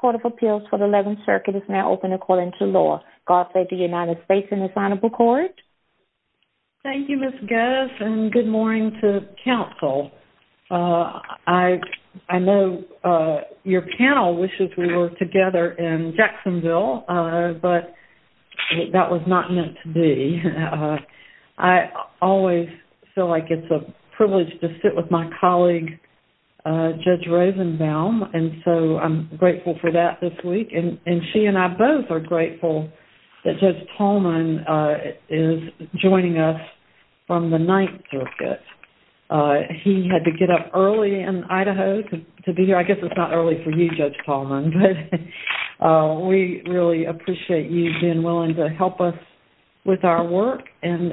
Court of Appeals for the 11th Circuit is now open according to law. God save the United States and the Senate. Thank you Ms. Goss and good morning to Council. I know your panel wishes we were together in Jacksonville, but that was not meant to be. I always feel like it's a privilege to sit with my colleague, Judge Ravenbaum, and so I'm grateful for that this week. And she and I both are grateful that Judge Pahlman is joining us from the 9th Circuit. He had to get up early in Idaho to be here. I guess it's not early for you, Judge Pahlman, but we really appreciate you being willing to help us with our work and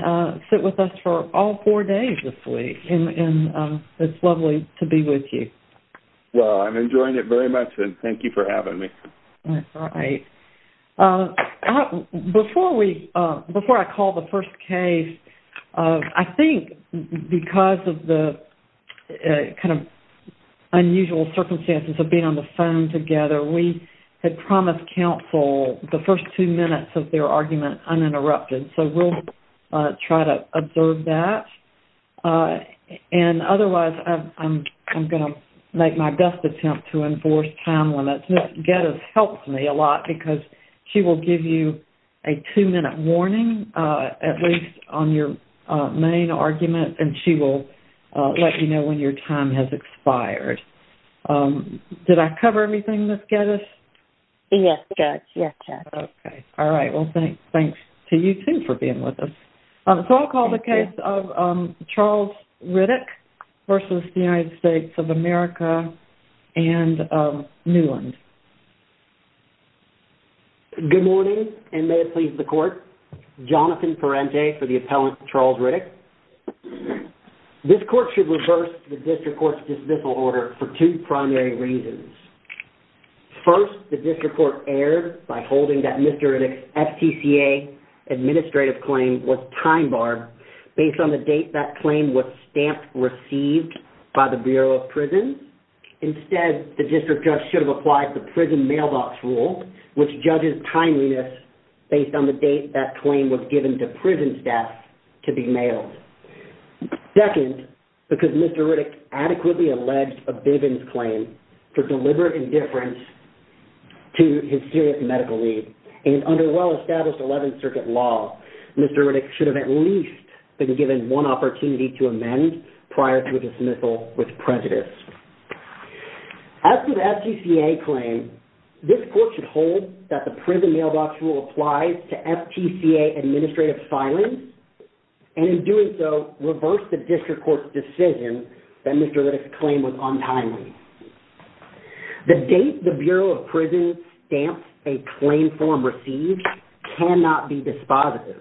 sit with us for all four days this week. It's lovely to be with you. Well, I'm enjoying it very much and thank you for having me. That's right. Before I call the first case, I think because of the kind of unusual circumstances of being on the phone together, we had promised Council the first two minutes of their argument uninterrupted, so we'll try to observe that. And otherwise, I'm going to make my best attempt to enforce time limits. Ms. Gettis helps me a lot because she will give you a two-minute warning, at least on your main argument, and she will let you know when your time has expired. Did I cover everything, Ms. Gettis? Yes, Judge, yes, Judge. Okay. All right. Well, thanks to you, too, for being with us. So I'll call the case of Charles Riddick versus the United States of America and Newland. Good morning, and may it please the Court. Jonathan Parente for the appellant, Charles Riddick. This court should reverse the District Court's dismissal order for two primary reasons. First, the District Court erred by holding that Mr. Riddick's FTCA administrative claim was time-barred based on the date that claim was stamped received by the Bureau of Prisons. Instead, the District Judge should have applied the prison mailbox rule, which judges timeliness based on the date that claim was given to prison staff to be mailed. Second, because Mr. Riddick adequately alleged a Bivens claim for deliberate indifference to his serious medical need. And under well-established 11th Circuit law, Mr. Riddick should have at least been given one opportunity to amend prior to a dismissal with prejudice. As to the FTCA claim, this court should hold that the prison mailbox rule applies to FTCA administrative filings, and in doing so, reverse the District Court's decision that Mr. Riddick's claim was untimely. The date the Bureau of Prisons stamped a claim form received cannot be dispositive.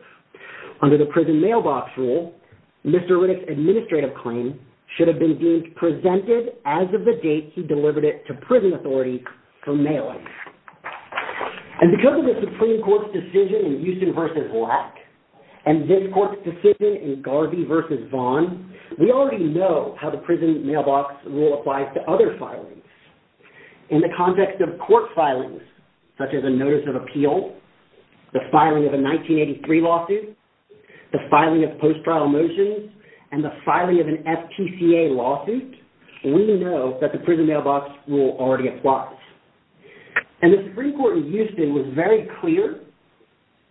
Under the prison mailbox rule, Mr. Riddick's administrative claim should have been presented as of the date he delivered it to prison authority for mailing. And because of the Supreme Court's decision in Houston v. Lack, and this court's decision in Garvey v. Vaughn, we already know how the prison mailbox rule applies to other filings. In the context of court filings, such as a notice of appeal, the filing of a 1983 lawsuit, the filing of post-trial motions, and the filing of an FTCA lawsuit, we know that the prison mailbox rule already applies. And the Supreme Court in Houston was very clear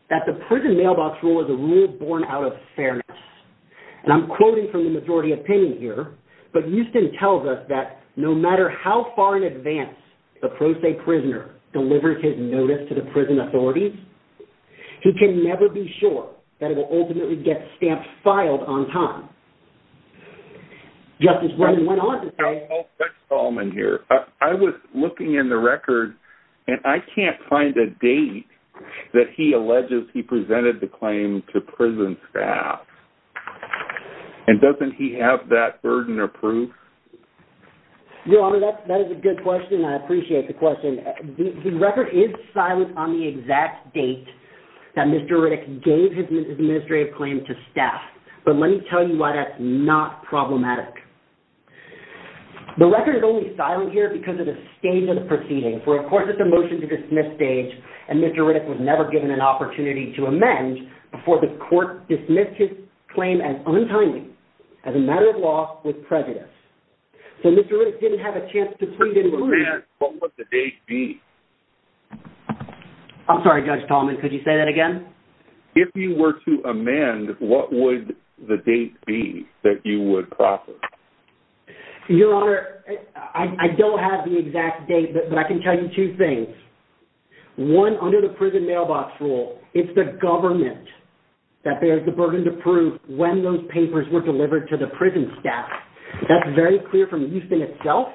that the prison mailbox rule is a rule born out of fairness. And I'm quoting from the majority opinion here, but Houston tells us that no matter how far in advance the pro se prisoner delivers his notice to the prison authorities, he can never be sure that it will ultimately get stamped filed on time. Just as Brendan went on to say... I'll fix Solomon here. I was looking in the record, and I can't find a date that he alleges he presented the claim to prison staff. And doesn't he have that burden of proof? Your Honor, that is a good question, and I appreciate the question. The record is silent on the exact date that Mr. Riddick gave his administrative claim to staff. But let me tell you why that's not problematic. The record is only silent here because of the stage of the proceeding, for, of course, it's a motion-to-dismiss stage, and Mr. Riddick was never given an opportunity to amend before the court dismissed his claim as untimely, as a matter of law, with prejudice. So Mr. Riddick didn't have a chance to plead and recuse. If you were to amend, what would the date be? I'm sorry, Judge Tolman, could you say that again? If you were to amend, what would the date be that you would process? Your Honor, I don't have the exact date, but I can tell you two things. One, under the prison mailbox rule, it's the government that bears the burden to prove when those papers were delivered to the prison staff. That's very clear from Houston itself.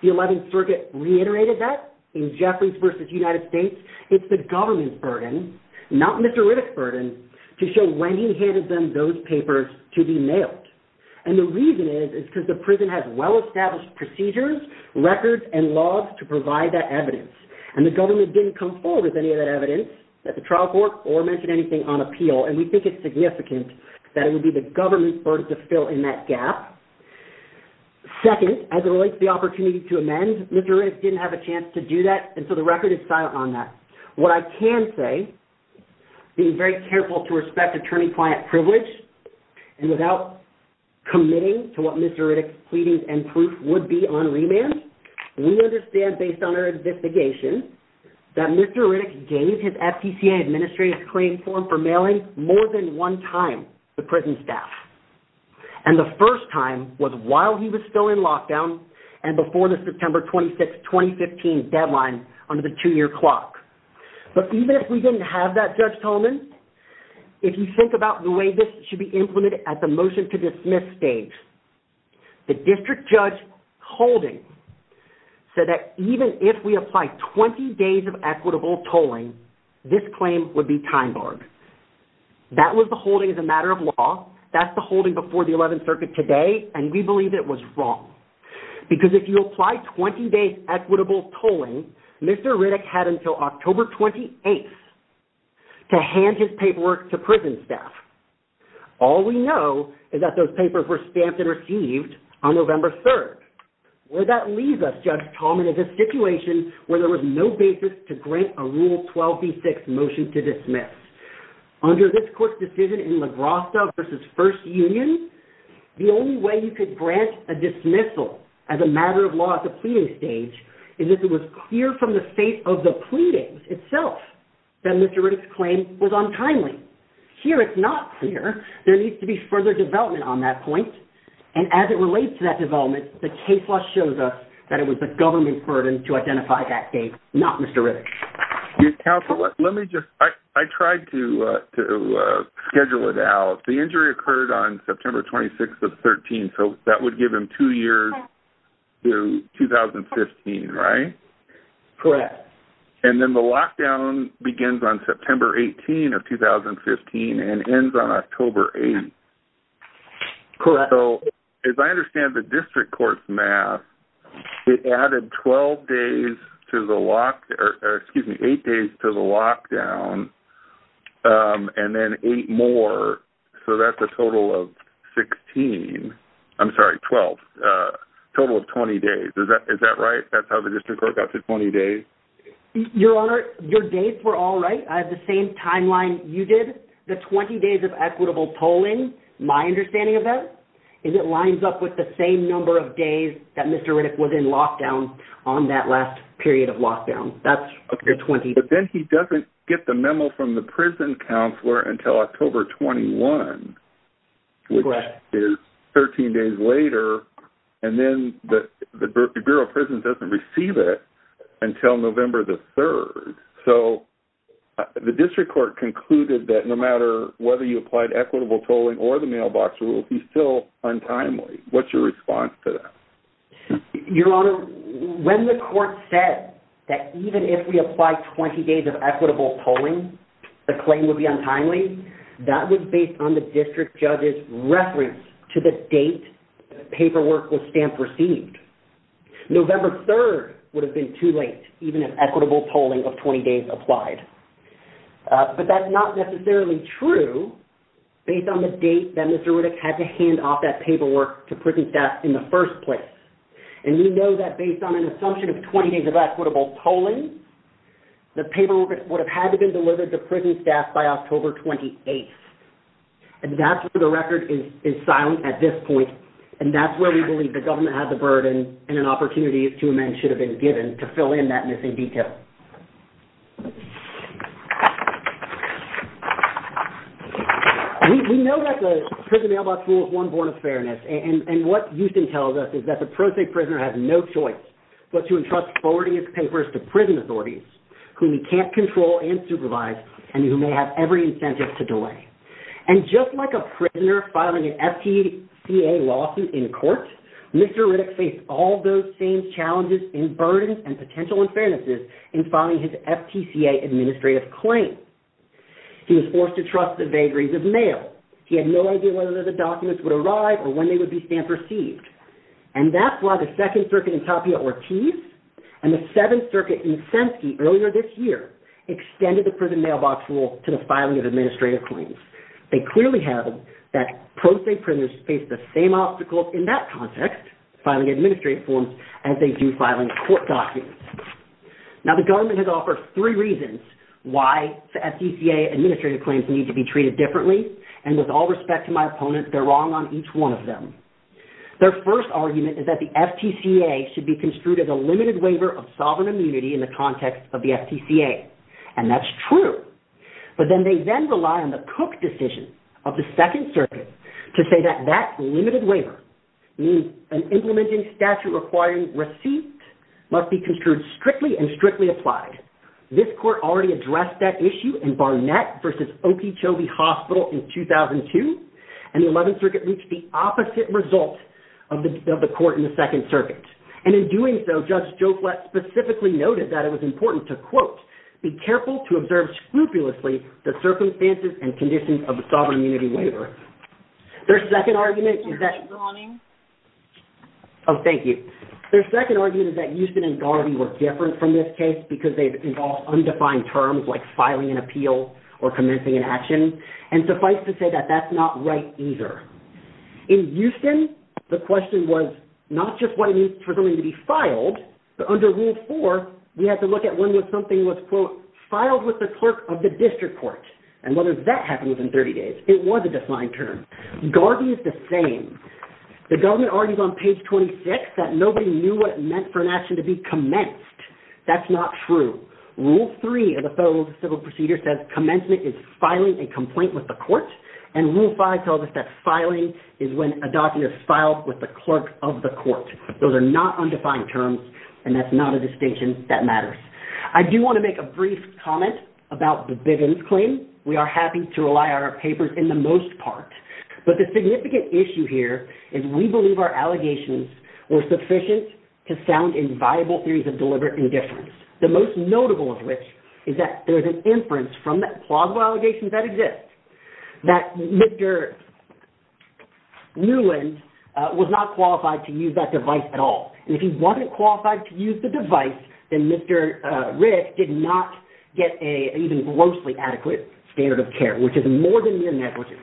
The 11th Circuit reiterated that. In Jeffries v. United States, it's the government's burden, not Mr. Riddick's burden, to show when he handed them those papers to be mailed. And the reason is is because the prison has well-established procedures, records, and laws to provide that evidence. And the government didn't come forward with any of that evidence at the trial court or mention anything on appeal, and we think it's significant that it would be the government's burden to fill in that gap. Second, as it relates to the opportunity to amend, Mr. Riddick didn't have a chance to do that, and so the record is silent on that. What I can say, being very careful to respect attorney-client privilege and without committing to what Mr. Riddick's pleadings and proof would be on remand, we understand, based on our investigation, more than one time the prison staff. And the first time was while he was still in lockdown and before the September 26, 2015 deadline under the two-year clock. But even if we didn't have that Judge Tolman, if you think about the way this should be implemented at the motion-to-dismiss stage, the district judge holding said that even if we apply 20 days of equitable tolling, this claim would be time-barred. That was the holding as a matter of law. That's the holding before the 11th Circuit today, and we believe it was wrong. Because if you apply 20 days' equitable tolling, Mr. Riddick had until October 28th to hand his paperwork to prison staff. All we know is that those papers were stamped and received on November 3rd. Would that leave us, Judge Tolman, as a situation where there was no basis to grant a Rule 12b6 motion to dismiss? Under this court's decision in LaGrossa v. First Union, the only way you could grant a dismissal as a matter of law at the pleading stage is if it was clear from the state of the pleadings itself that Mr. Riddick's claim was untimely. Here, it's not clear. There needs to be further development on that point. And as it relates to that development, the case law shows us that it was the government's burden to identify that date, not Mr. Riddick's. Counsel, let me just... I tried to schedule it out. The injury occurred on September 26th of 2013, so that would give him two years to 2015, right? Correct. And then the lockdown begins on September 18th of 2015 and ends on October 8th. So, as I understand the district court's math, it added 12 days to the lock... Excuse me, eight days to the lockdown and then eight more. So, that's a total of 16. I'm sorry, 12. Total of 20 days. Is that right? That's how the district court got to 20 days? Your Honor, your dates were all right. I have the same timeline you did. The 20 days of equitable polling, my understanding of that, is it lines up with the same number of days that Mr. Riddick was in lockdown on that last period of lockdown. That's your 20 days. But then he doesn't get the memo from the prison counselor until October 21, which is 13 days later, and then the Bureau of Prisons doesn't receive it until November the 3rd. So, the district court concluded that no matter whether you applied equitable polling or the mailbox rules, it would still be untimely. What's your response to that? Your Honor, when the court said that even if we apply 20 days of equitable polling, the claim would be untimely, that was based on the district judge's reference to the date paperwork was stamped received. November 3rd would have been too late, even if equitable polling of 20 days applied. But that's not necessarily true based on the date that Mr. Riddick had to hand off that paperwork to prison staff in the first place. And we know that based on an assumption of 20 days of equitable polling, the paperwork would have had to been delivered to prison staff by October 28th. And that's where the record is silent at this point, and that's where we believe the government has a burden and an opportunity to amend should have been given to fill in that missing detail. We know that the Prison Mailbox Rule is one born of fairness, and what Houston tells us is that the pro se prisoner has no choice but to entrust forwarding his papers to prison authorities who he can't control and supervise and who may have every incentive to delay. And just like a prisoner filing an FTCA lawsuit in court, Mr. Riddick faced all those same challenges and burdens and potential unfairnesses as a prisoner in filing his FTCA administrative claim. He was forced to trust the vagaries of mail. He had no idea whether the documents would arrive or when they would be stamp received. And that's why the Second Circuit in Tapia Ortiz and the Seventh Circuit in Semsky earlier this year extended the Prison Mailbox Rule to the filing of administrative claims. They clearly have that pro se prisoners face the same obstacles in that context, filing administrative forms, as they do filing court documents. Now, the government has offered three reasons why the FTCA administrative claims need to be treated differently, and with all respect to my opponent, they're wrong on each one of them. Their first argument is that the FTCA should be construed as a limited waiver of sovereign immunity in the context of the FTCA, and that's true. But then they then rely on the Cook decision of the Second Circuit to say that that limited waiver, an implementing statute requiring receipts, must be construed strictly and strictly applied. This court already addressed that issue in Barnett v. Okeechobee Hospital in 2002, and the Eleventh Circuit reached the opposite result of the court in the Second Circuit. And in doing so, Judge Joe Flett specifically noted that it was important to, quote, be careful to observe scrupulously the circumstances and conditions of the sovereign immunity waiver. Their second argument is that... ...that Houston and Garvey were different from this case because they involved undefined terms like filing an appeal or commencing an action, and suffice to say that that's not right either. In Houston, the question was not just what it means for something to be filed, but under Rule 4, we have to look at when something was, quote, filed with the clerk of the district court, and whether that happened within 30 days. It was a defined term. Garvey is the same. The government argues on page 26 that nobody knew what it meant for an action to be commenced. That's not true. Rule 3 of the Federal Civil Procedure says commencement is filing a complaint with the court, and Rule 5 tells us that filing is when a document is filed with the clerk of the court. Those are not undefined terms, and that's not a distinction that matters. I do want to make a brief comment about the Bivens claim. We are happy to rely on our papers in the most part, but the significant issue here is we believe our allegations were sufficient to sound in viable theories of deliberate indifference, the most notable of which is that there's an inference from the plausible allegations that exist that Mr. Newland was not qualified to use that device at all. If he wasn't qualified to use the device, then Mr. Rich did not get an even grossly adequate standard of care, which is more than mere negligence.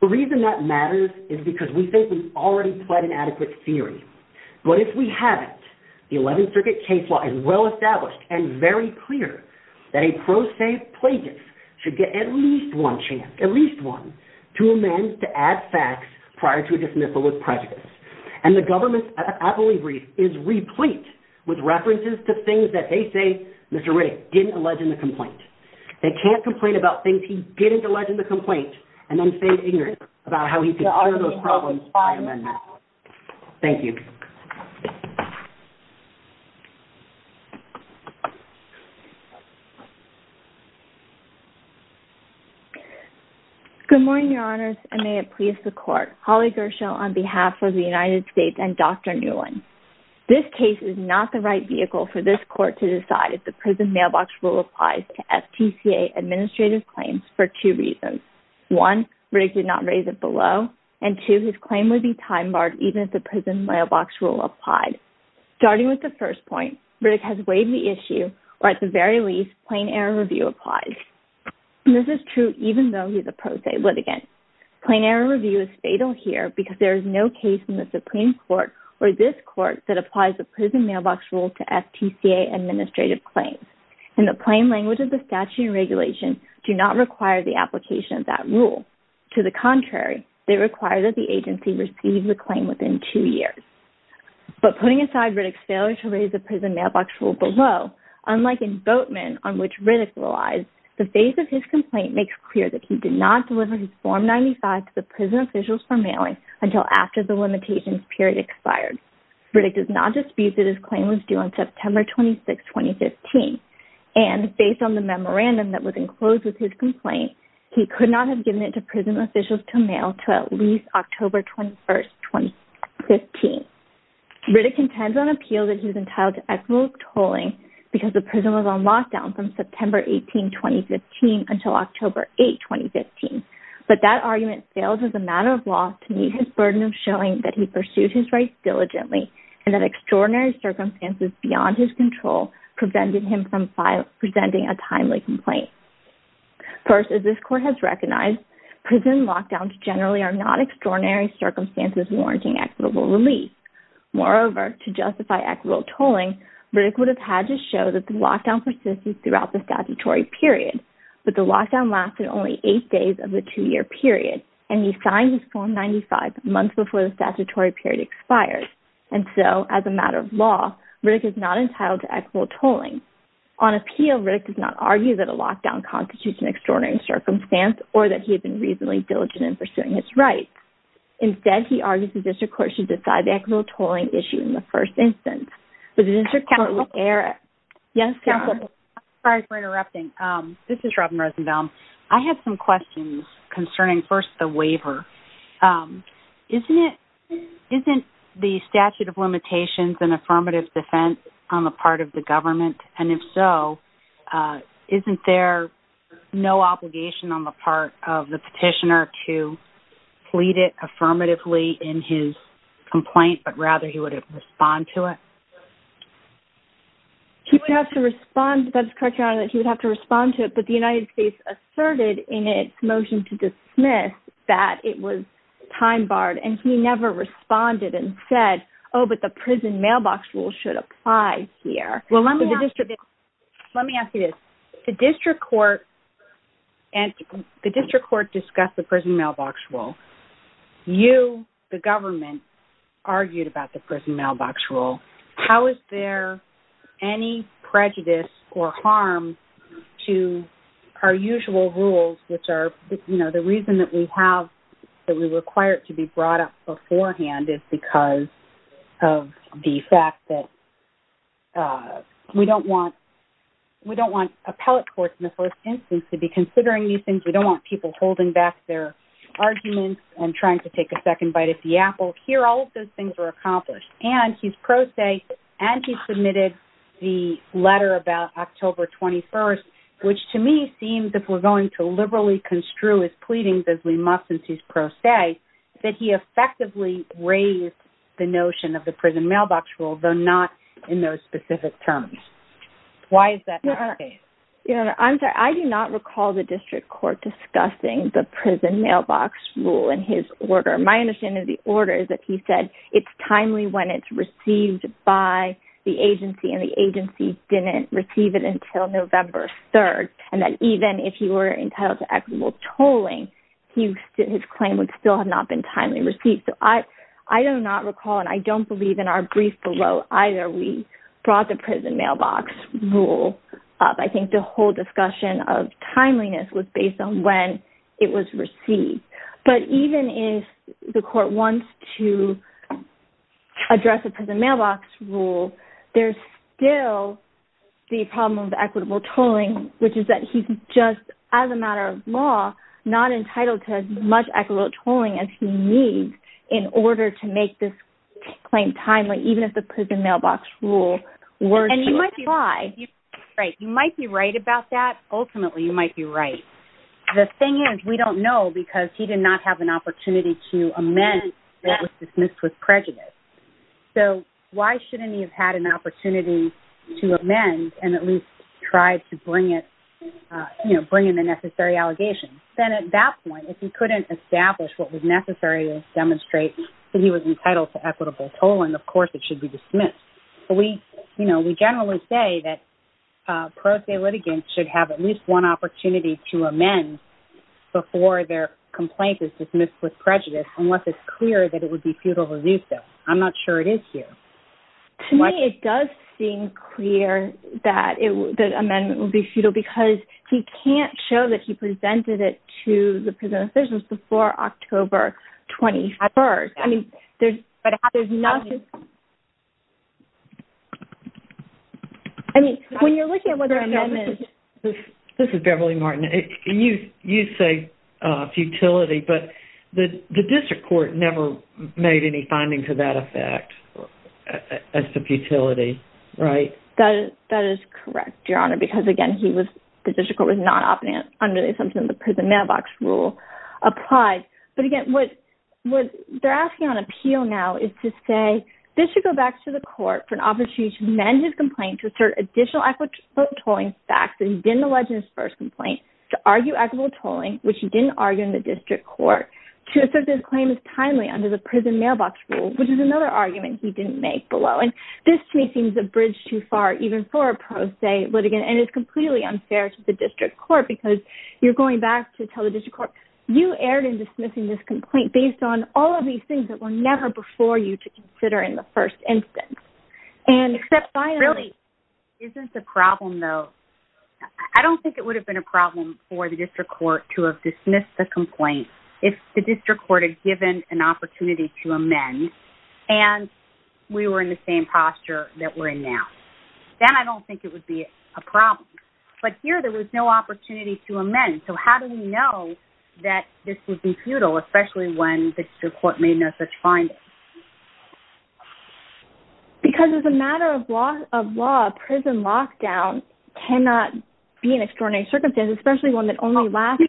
The reason that matters is because we think we've already pled an adequate theory. But if we haven't, the 11th Circuit case law is well established and very clear that a pro se plaintiff should get at least one chance, at least one, to amend to add facts prior to a dismissal with prejudice. And the government's appellee brief is replete with references to things that they say Mr. Riddick didn't allege in the complaint. They can't complain about things if he didn't allege in the complaint and then say ignorance about how he could honor those problems by amendment. Thank you. Good morning, Your Honors, and may it please the Court. Holly Gershel on behalf of the United States and Dr. Newland. This case is not the right vehicle for this Court to decide if the prison mailbox rule applies to FTCA administrative claims for two reasons. One, Riddick did not raise it below, and two, his claim would be time-barred even if the prison mailbox rule applied. Starting with the first point, Riddick has weighed the issue where at the very least, plain error review applies. And this is true even though he's a pro se litigant. Plain error review is fatal here because there is no case in the Supreme Court or this Court that applies the prison mailbox rule to FTCA administrative claims. In the plain language of the statute and regulation, do not require the application of that rule. To the contrary, they require that the agency receive the claim within two years. But putting aside Riddick's failure to raise the prison mailbox rule below, unlike in Boatman, on which Riddick relies, the face of his complaint makes clear that he did not deliver his Form 95 to the prison officials for mailing until after the limitations period expired. Riddick does not dispute that his claim was due on September 26, 2015. And based on the memorandum that was enclosed with his complaint, he could not have given it to prison officials to mail to at least October 21, 2015. Riddick contends on appeal that he was entitled to equitable tolling because the prison was on lockdown from September 18, 2015 until October 8, 2015. But that argument fails as a matter of law to meet his burden of showing that he pursued his rights diligently and that extraordinary circumstances beyond his control prevented him from presenting a timely complaint. First, as this court has recognized, prison lockdowns generally are not extraordinary circumstances warranting equitable release. Moreover, to justify equitable tolling, Riddick would have had to show that the lockdown persisted throughout the statutory period. But the lockdown lasted only eight days of the two-year period, and he signed his Form 95 months before the statutory period expired. And so, as a matter of law, Riddick is not entitled to equitable tolling. On appeal, Riddick does not argue that a lockdown constitutes an extraordinary circumstance or that he had been reasonably diligent in pursuing his rights. Instead, he argues the district court should decide the equitable tolling issue in the first instance. But the district court would err... Yes, counsel? Sorry for interrupting. This is Robin Rosenbaum. I have some questions concerning, first, the waiver. Isn't it... Isn't the statute of limitations an affirmative defense on the part of the government? And if so, isn't there no obligation on the part of the petitioner to plead it affirmatively in his complaint, but rather he would have to respond to it? He would have to respond... That's correct, Your Honor, that he would have to respond to it, but the United States asserted in its motion to dismiss that it was time-barred, and he never responded and said, oh, but the prison mailbox rule should apply here. Well, let me ask you this. The district court... The district court discussed the prison mailbox rule. You, the government, argued about the prison mailbox rule. How is there any prejudice or harm to our usual rules, which are, you know, the reason that we have... that we require it to be brought up beforehand is because of the fact that we don't want... we don't want appellate courts in the first instance to be considering these things. We don't want people holding back their arguments and trying to take a second bite at the apple. Here, all of those things were accomplished, and he's pro se, and he submitted the letter about October 21st, which to me seems as if we're going to liberally construe his pleadings as we must since he's pro se, that he effectively raised the notion of the prison mailbox rule, though not in those specific terms. Why is that not the case? I'm sorry. I do not recall the district court discussing the prison mailbox rule in his order. My understanding of the order is that he said it's timely when it's received by the agency, and the agency didn't receive it until November 3rd, and that even if he were entitled to equitable tolling, his claim would still have not been timely received. So I do not recall, and I don't believe in our brief below either we brought the prison mailbox rule up. I think the whole discussion of timeliness was based on when it was received. But even if the court wants to address the prison mailbox rule, there's still the problem of equitable tolling, which is that he's just, as a matter of law, not entitled to as much equitable tolling as he needs in order to make this claim timely, even if the prison mailbox rule were to apply. And you might be right. You might be right about that. Ultimately, you might be right. The thing is, we don't know because he did not have an opportunity to amend that was dismissed with prejudice. So why shouldn't he have had an opportunity to amend and at least try to bring it, you know, bring in the necessary allegations? Then at that point, if he couldn't establish what was necessary to demonstrate that he was entitled to equitable tolling, of course it should be dismissed. We generally say that pro se litigants should have at least one opportunity to amend before their complaint is dismissed with prejudice, unless it's clear that it would be futile to do so. I'm not sure it is here. To me, it does seem clear that the amendment will be futile because he can't show that he presented it to the prison officials before October 21st. I mean, there's nothing... I mean, when you're looking at what their amendment... This is Beverly Martin. You say futility, but the district court never made any finding to that effect as to futility, right? That is correct, Your Honor, because again, the district court was not operating under the assumption that the prison mailbox rule applies. But again, what they're asking on appeal now is to say this should go back to the court for an opportunity to amend his complaint to assert additional equitable tolling facts that he didn't allege in his first complaint, to argue equitable tolling, which he didn't argue to assert that his claim is timely under the prison mailbox rule, which is another argument he didn't make below. And this, to me, seems a bridge too far even for a pro se litigant, and it's completely unfair to the district court because you're going back to tell the district court, you erred in dismissing this complaint based on all of these things that were never before you to consider in the first instance. And except finally... Really, isn't the problem, though... I don't think it would have been a problem for the district court to have dismissed the complaint if the district court had given an opportunity to amend, and we were in the same posture that we're in now. Then I don't think it would be a problem. But here, there was no opportunity to amend, so how do we know that this would be futile, especially when the district court made no such findings? Because as a matter of law, prison lockdown cannot be an extraordinary circumstance, especially one that only lasts...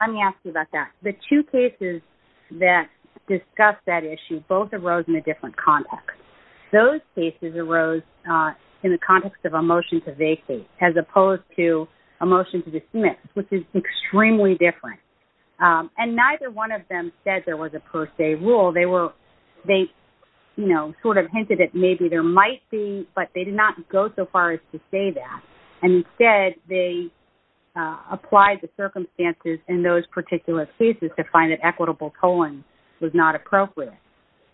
Let me ask you about that. The two cases that discuss that issue both arose in a different context. Those cases arose in the context of a motion to vacate as opposed to a motion to dismiss, which is extremely different. And neither one of them said there was a per se rule. They sort of hinted that maybe there might be, but they did not go so far as to say that. And instead, they applied the circumstances in those particular cases to find that equitable tolling was not appropriate.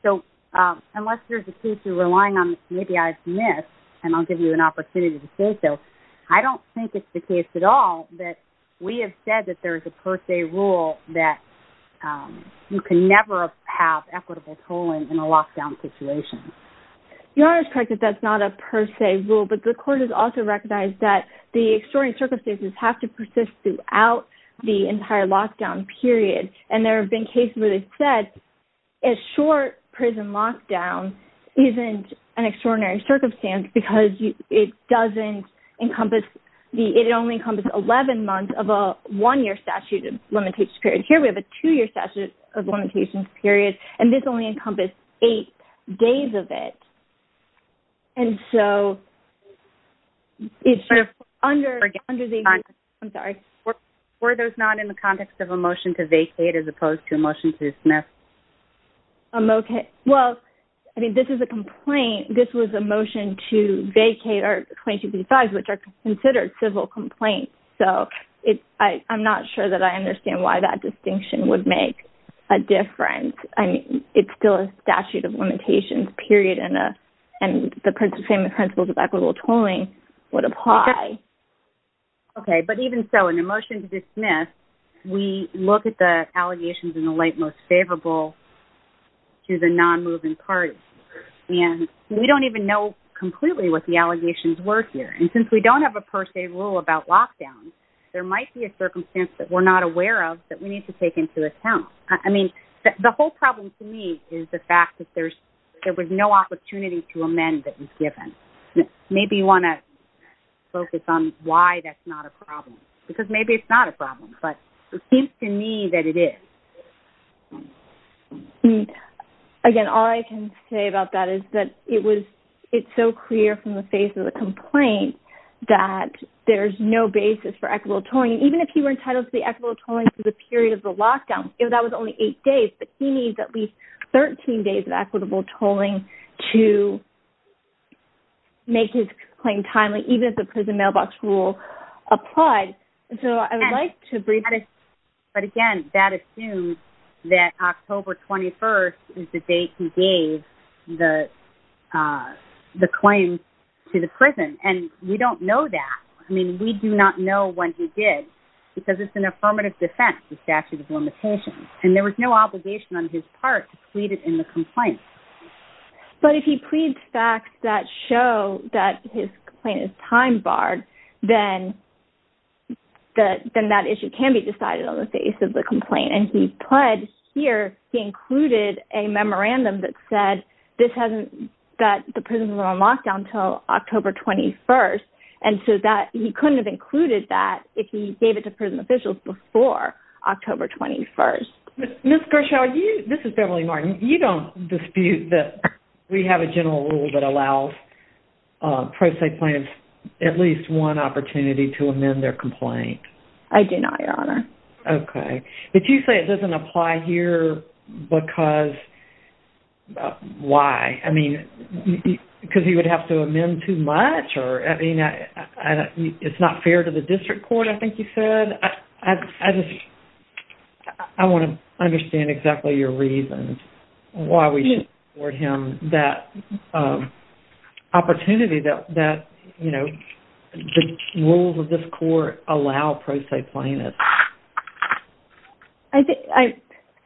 So unless there's a case you're relying on, maybe I've missed, and I'll give you an opportunity to say so. I don't think it's the case at all that we have said that there is a per se rule that you can never have equitable tolling in a lockdown situation. Your Honor is correct that that's not a per se rule, but the court has also recognized that the extraordinary circumstances have to persist throughout the entire lockdown period. And there have been cases where they've said that a short prison lockdown isn't an extraordinary circumstance because it doesn't encompass the... It only encompasses 11 months of a one-year statute of limitations period. Here we have a two-year statute of limitations period, and this only encompasses eight days of it. And so... It's under the... I'm sorry. Were those not in the context of a motion to vacate as opposed to a motion to dismiss? I'm okay. Well, I mean, this is a complaint. This was a motion to vacate our claims to be defined, which are considered civil complaints. So I'm not sure that I understand why that distinction would make a difference. I mean, it's still a statute of limitations period, and the same principles of equitable tolling would apply. Okay, but even so, in a motion to dismiss, we look at the allegations in the late most favorable to the non-moving parties, and we don't even know completely what the allegations were here. And since we don't have a per se rule about lockdowns, there might be a circumstance that we're not aware of that we need to take into account. I mean, the whole problem to me is the fact that there's... there was no opportunity to amend that was given. Maybe you want to focus on why that's not a problem, because maybe it's not a problem, but it seems to me that it is. I mean, again, all I can say about that is that it was... it's so clear from the face of the complaint that there's no basis for equitable tolling. Even if he were entitled to be equitable tolling for the period of the lockdown, if that was only eight days, he needs at least 13 days of equitable tolling to make his claim timely, even if the prison mailbox rule applied. So I would like to bring... But again, that assumes that October 21st is the date he gave the claim to the prison, and we don't know that. I mean, we do not know when he did, because it's an affirmative defense, the statute of limitations, and there was no obligation on his part to plead it in the complaint. But if he pleads facts that show that his complaint is time-barred, then that issue can be decided on the face of the complaint. And he pled here, he included a memorandum that said this hasn't... that the prison was on lockdown until October 21st, and so that... he couldn't have included that if he gave it to prison officials before October 21st. Ms. Gershow, this is Beverly Martin. You don't dispute that we have a general rule that allows pro se plaintiffs at least one opportunity to amend their complaint. I do not, Your Honor. Okay. But you say it doesn't apply here because... why? I mean, because he would have to amend too much? Or, I mean, it's not fair to the district court, I think you said? I just... I want to understand exactly your reasons why we should award him that opportunity that, you know, the rules of this court allow pro se plaintiffs. I think...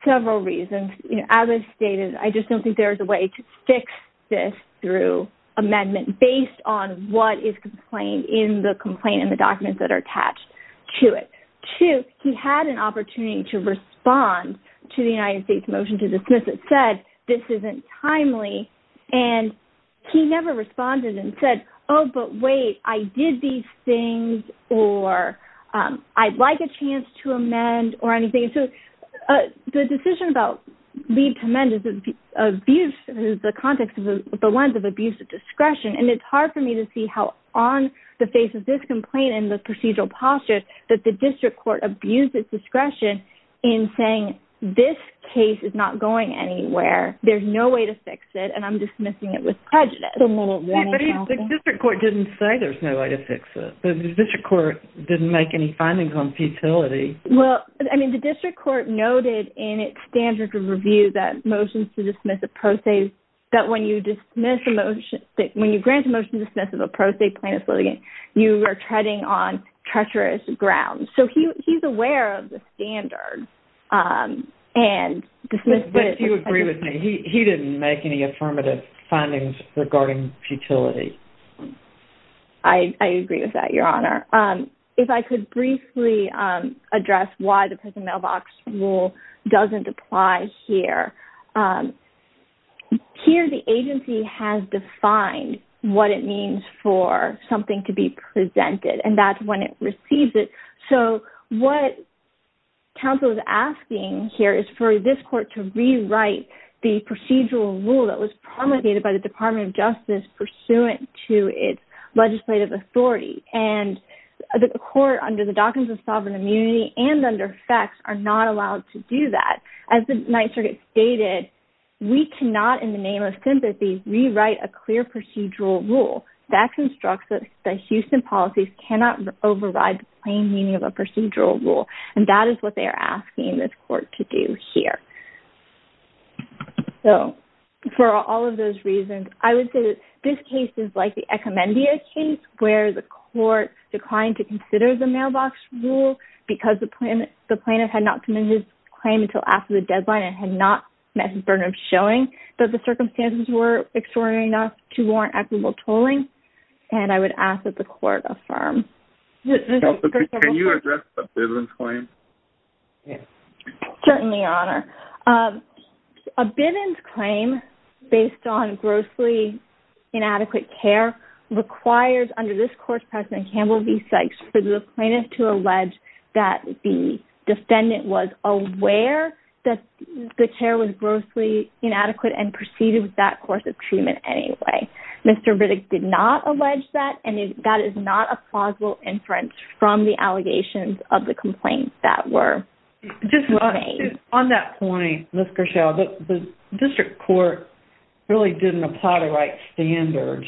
several reasons. You know, as I stated, I just don't think there is a way to fix this through amendment based on what is complained in the complaint and the documents that are attached to it. Two, he had an opportunity to respond to the United States motion to dismiss it, said this isn't timely, and he never responded and said, oh, but wait, I did these things or I'd like a chance to amend or anything. So, the decision about lead to amend is abuse in the context of the lens of abuse of discretion and it's hard for me to see how on the face of this complaint and the procedural posture that the district court abused its discretion in saying this case is not going anywhere, there's no way to fix it, and I'm dismissing it with prejudice. The district court didn't say there's no way to fix it. The district court didn't make any findings on futility. Well, I mean, the district court noted in its standard of review that motions to dismiss a pro se, that when you dismiss a motion, that when you grant a motion to dismiss of a pro se plaintiff's litigation, you are treading on treacherous ground. So, he's aware of the standards and dismissed it. Do you agree with me? He didn't make any affirmative findings regarding futility. I agree with that, Your Honor. If I could briefly address why the prison mailbox rule doesn't apply here. Here, the agency has defined what it means for something to be presented, and that's when it receives it. So, what counsel is asking here is for this court to rewrite the procedural rule that was promulgated by the Department of Justice pursuant to its legislative authority. And, the court under the Doctrines of Sovereign Immunity and under FECTS are not allowed to do that. As the Ninth Circuit stated, we cannot, in the name of sympathy, rewrite a clear procedural rule. That constructs that Houston policies cannot override the plain meaning of a procedural rule, and that is what they are asking this court to do here. So, for all of those reasons, I would say that this case is like the Ecommendia case where the court declined to consider the mailbox rule because the plaintiff had not committed his claim until after the deadline and had not met his burden of showing that the circumstances were extraordinary enough to warrant equitable tolling. And, I would ask that the court affirm. Can you address a Bivens claim? Certainly, Your Honor. A Bivens claim based on grossly inadequate care requires, under this course, President Campbell v. Sykes, for the plaintiff to allege that the defendant was aware that the care was grossly inadequate and proceeded with that course of treatment anyway. Mr. Riddick did not allege that and that is not a plausible inference from the allegations of the complaints that were made. On that point, Ms. Grishel, the district court really didn't apply the right standards.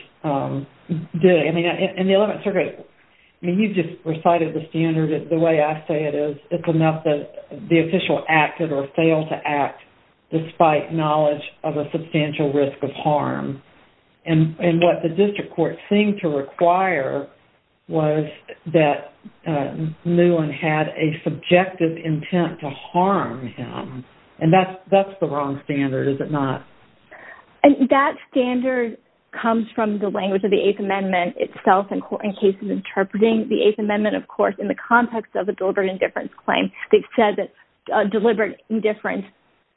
He just recited the standard the way I say it is. It's enough that the official acted or failed to act despite knowledge of a substantial risk of harm. And what the district court seemed to require was that Newland had a subjective intent to harm him. And that's the wrong standard, is it not? And that standard comes from the language of the district court. The district court said that deliberate indifference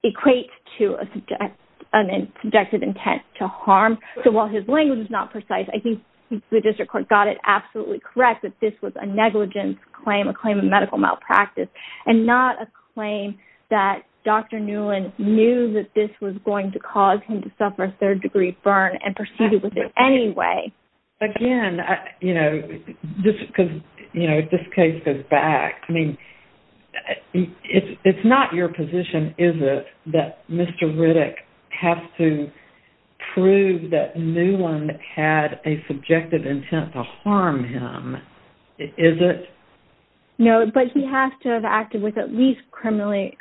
equates to a subjective intent to harm. So while his language is not precise, I think the district court got it correct that this was a claim of medical malpractice and not a claim that Dr. Newland knew that this was going to cause him to suffer a third degree burn and proceed with it anyway. Again, you know, this case goes back. It's not your position, is it, that Mr. Riddick has to prove that Newland had a subjective intent to harm him, is it? No, but he has to have acted with at least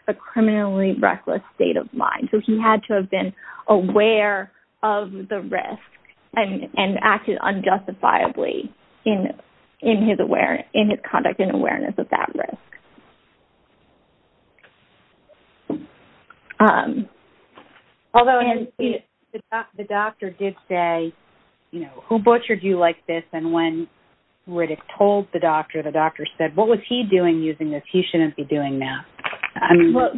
a criminally reckless state of mind. So he had to have been aware of the risk and acted unjustifiably in his conduct and awareness of that risk. Although the doctor did say, you know, who butchered you like this? And when Riddick told the doctor what was he doing using this, he shouldn't be doing now?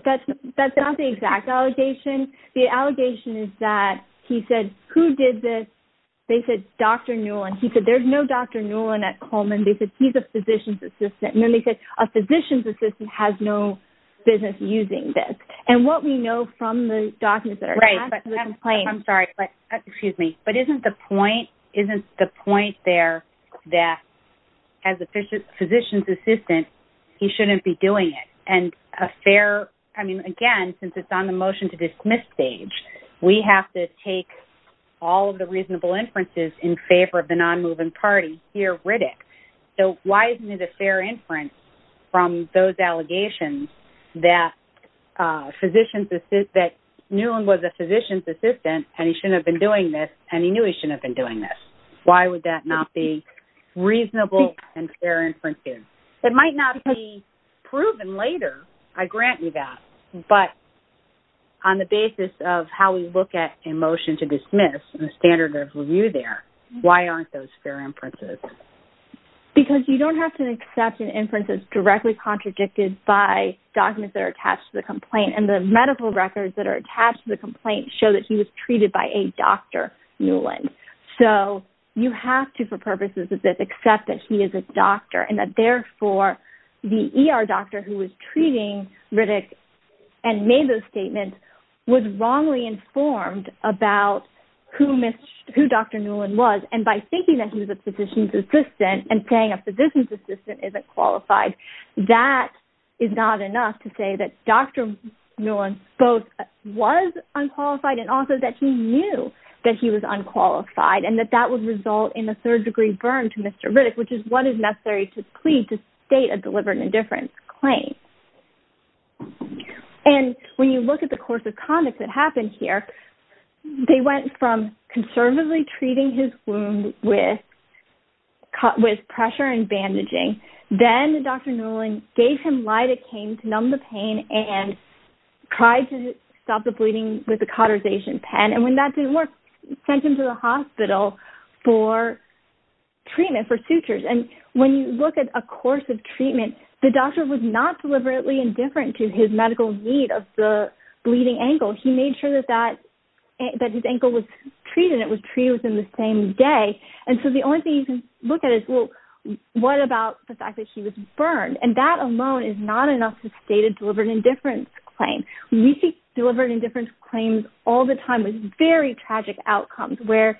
That's not the exact allegation. The allegation is that he said who did this? They said Dr. Newland. He said there's no Dr. Newland at Coleman. He said he's a physician's assistant. A physician's assistant has no business using this. And what we know from the documents that are in the complaint. But isn't the point there that as a physician's assistant, he shouldn't be doing it? And a fair, I mean, again, since it's on the motion to dismiss stage, we have to take all of the reasonable inferences in favor of the notion that Newland was a physician's assistant and he knew he shouldn't have been doing this. Why would that not be reasonable and fair inferences? It might not be proven later, I grant you that, but on the basis of how we look at a motion to dismiss, why aren't those fair inferences? Because you don't have to accept an inference that's directly contradicted by documents that are attached to the complaint and the medical records that are attached to the complaint show that he was treated by a Dr. Newland. So you have to, for purposes of this, accept that he is a doctor and that, therefore, the ER doctor who was treating Riddick and made those statements was wrongly informed about who Dr. Newland was and by thinking that he was a physician's assistant and paying a physician's assistant isn't qualified, that is not enough to say that Dr. Newland both was unqualified and also that he knew that he was unqualified and that that would result in a third degree burn to Mr. Riddick, which is what is necessary to plead to state a delivered indifference claim. And when you look at the course of conduct that happened here, they went from conservatively treating his wound with pressure and bandaging, then Dr. Newland gave him lidocaine to numb the pain and tried to stop the bleeding with a cotterization pen and when that didn't work, sent him to the hospital for treatment for sutures. And when you look at a course of treatment, the doctor was not deliberately indifferent to his medical need of the bleeding ankle. He made sure that his ankle was treated within the same day. And so the only thing you can look at is, well, what about the fact that he was burned? And that alone is not enough to state a delivered indifference claim. We see delivered indifference claims all the time with very tragic outcomes where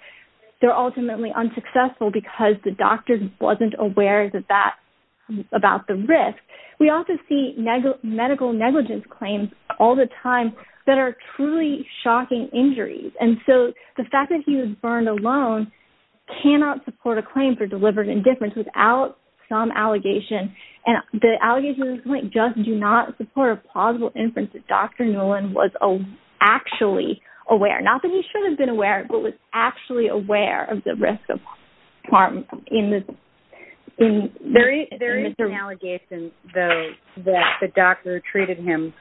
they're ultimately unsuccessful because the fact that he was burned alone cannot support a claim for delivered indifference without some allegation. And the allegations just do not support a possible inference that Dr. Nolan was actually aware. Not that he should have been aware, but was actually aware of the risk of harm in this. There is an allegation, though, that the doctor treated him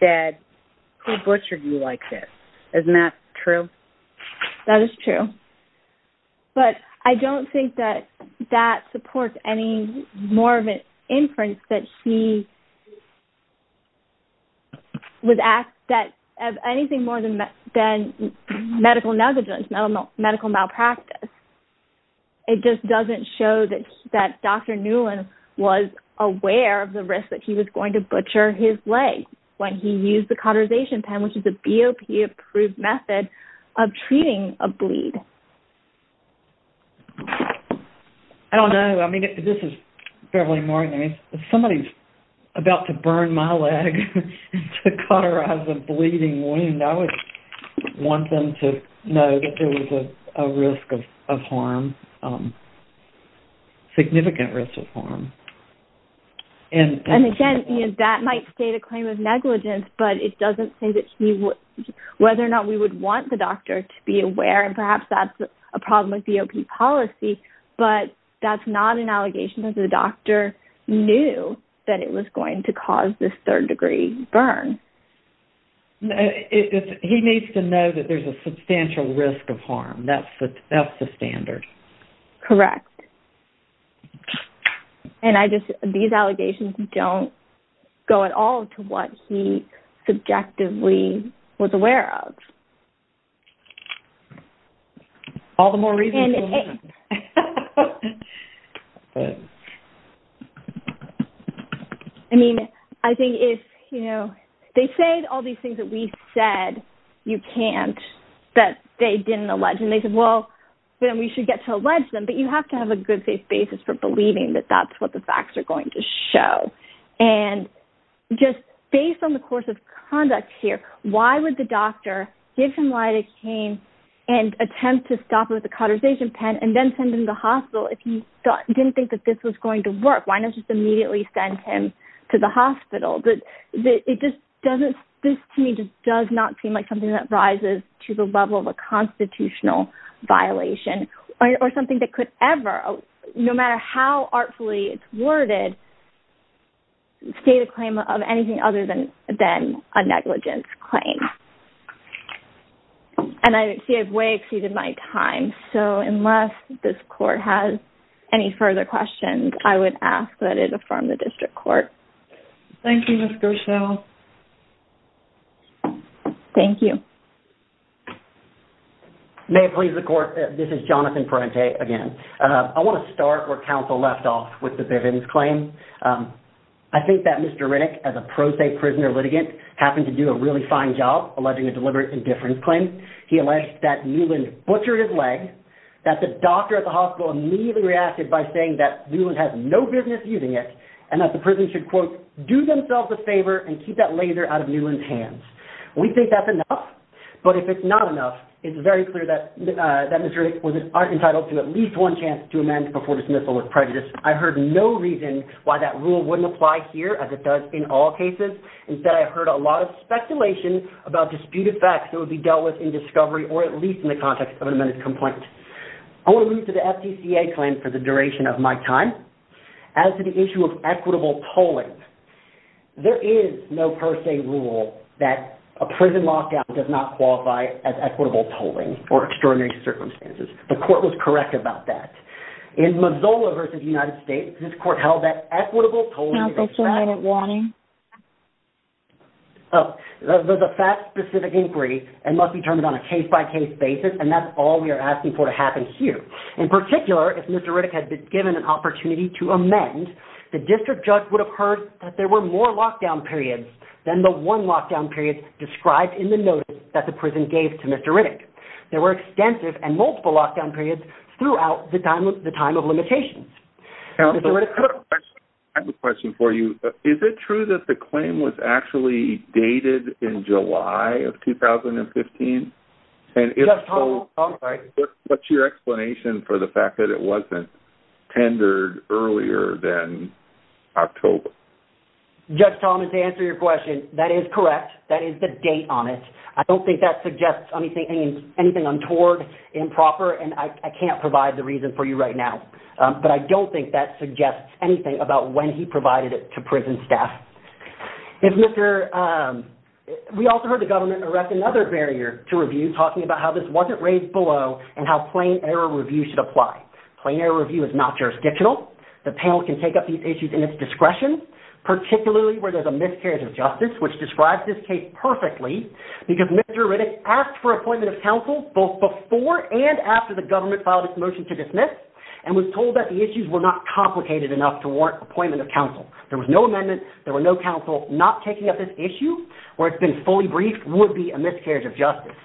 dead. Who butchered you like this? Isn't that true? That is true. But I don't think that that supports any more of an inference that he was asked that anything more than medical negligence, medical malpractice. It just doesn't show that Dr. Nolan was aware of the risk that he was going to butcher his leg when he used the cotterization pen, which is a BOP approved method of treating a bleed. I don't know. This is Beverly Morgan. If somebody is about to burn my leg to cotterize a bleeding wound, I would want them to know that there was a risk of harm, significant risk of harm. Again, that might state a claim of negligence, but it doesn't say whether or not we would want the doctor to be aware. Perhaps that's a problem with BOP policy, but that's not an allegation that the doctor knew that it was going to cause this third-degree burn. He needs to know that there's a substantial risk of harm. That's the standard. Correct. These allegations don't go at all to what he subjectively was aware of. All the more reasons. I mean, I think if, you know, they say all these things that we said you can't, that they didn't allege, and they said, well, then we should get to allege them, but you have to have a good safe basis for believing that that's what the facts are going to show. Based on the course of conduct here, why would the doctor give him lidocaine and attempt to stop it with a cotization pen and then send him to the hospital if he didn't think this was going to work? Why not send him to the hospital? This to me does not seem like something that rises to the level of a constitutional violation or something that could ever, no matter how artfully worded, state a claim of anything other than a negligence claim. And I see I've way exceeded my time, so unless this Court has any further questions, I would ask that it affirm the District Court. Thank you, Ms. Gerschel. Thank you. May it please the Court, this is Mr. Rinnick. that Mr. Rinnick as a pro se prisoner litigant alleged a deliberate indifference claim, that the doctor at the hospital immediately reacted by saying that Newland has no business using it and that the prison should do themselves a favor and keep that laser out of Newland's hands. We think that's enough, but if it's not enough, it's very clear that Mr. Rinnick was entitled to at least one chance to amend before dismissal of prejudice. I heard no reason why that rule wouldn't apply here as it does in all cases. Instead, I heard a lot of speculation about disputed facts or at least in the context of an amended complaint. As to the issue of equitable polling, there is no per se rule that a prison lockout does not qualify as equitable polling. The court was correct about that. In Missoula versus United States, this court held that equitable polling was a fact-specific inquiry and must be termed on a case-by-case basis. In particular, if Mr. Rinnick had been given an opportunity to amend, the district judge would have heard more lockdown periods than the one lockdown period described in the notice. There were multiple lockdown periods throughout the time of limitations. Is it true that the claim was actually dated in July of 2015? What's your explanation for the fact that it wasn't tendered earlier than October? Judge Thomas, to answer your question, that is correct. That is the date on it. I don't think that suggests anything untoward, improper, and I can't provide the reason for you right now, but I don't think that suggests anything about when he provided it to prison staff. We also heard the government erect another barrier to review talking about how this wasn't raised below and how plain error review should apply. Plain error review is not jurisdictional. The panel can take up these issues in its discretion, particularly where there's a miscarriage of justice, which is miscarriage of justice. There was no amendment, no council not taking up this issue, or it would be a miscarriage of justice.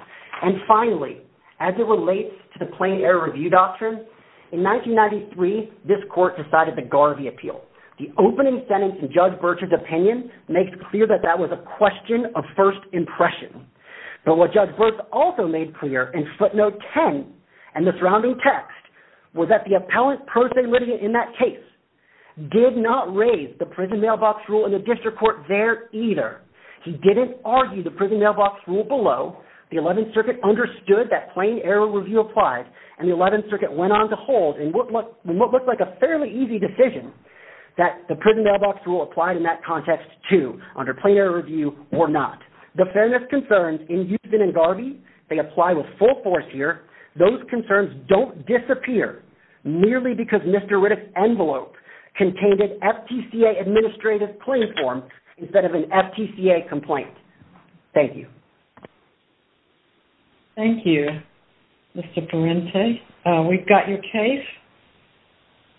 Finally, as it relates to the plain error review doctrine, in 1993 this court decided to guard the appeal. It was a question of first impression. But what judge birth also made clear in footnote 10 and the surrounding text was that the appellant did not raise the prison mailbox rule in the district court there either. He didn't argue the prison mailbox rule below. The 11th circuit understood that plain error review did not apply. The 11th circuit went on to hold in what looked like a fairly easy decision that the prison mailbox rule applied in that context too. The fairness concerns apply with full force here. Those concerns don't disappear merely because Mr. Riddick's envelope contained an administrative claim form instead of an FTCA complaint. Thank you. Thank you, Mr. Parente. We've got your case.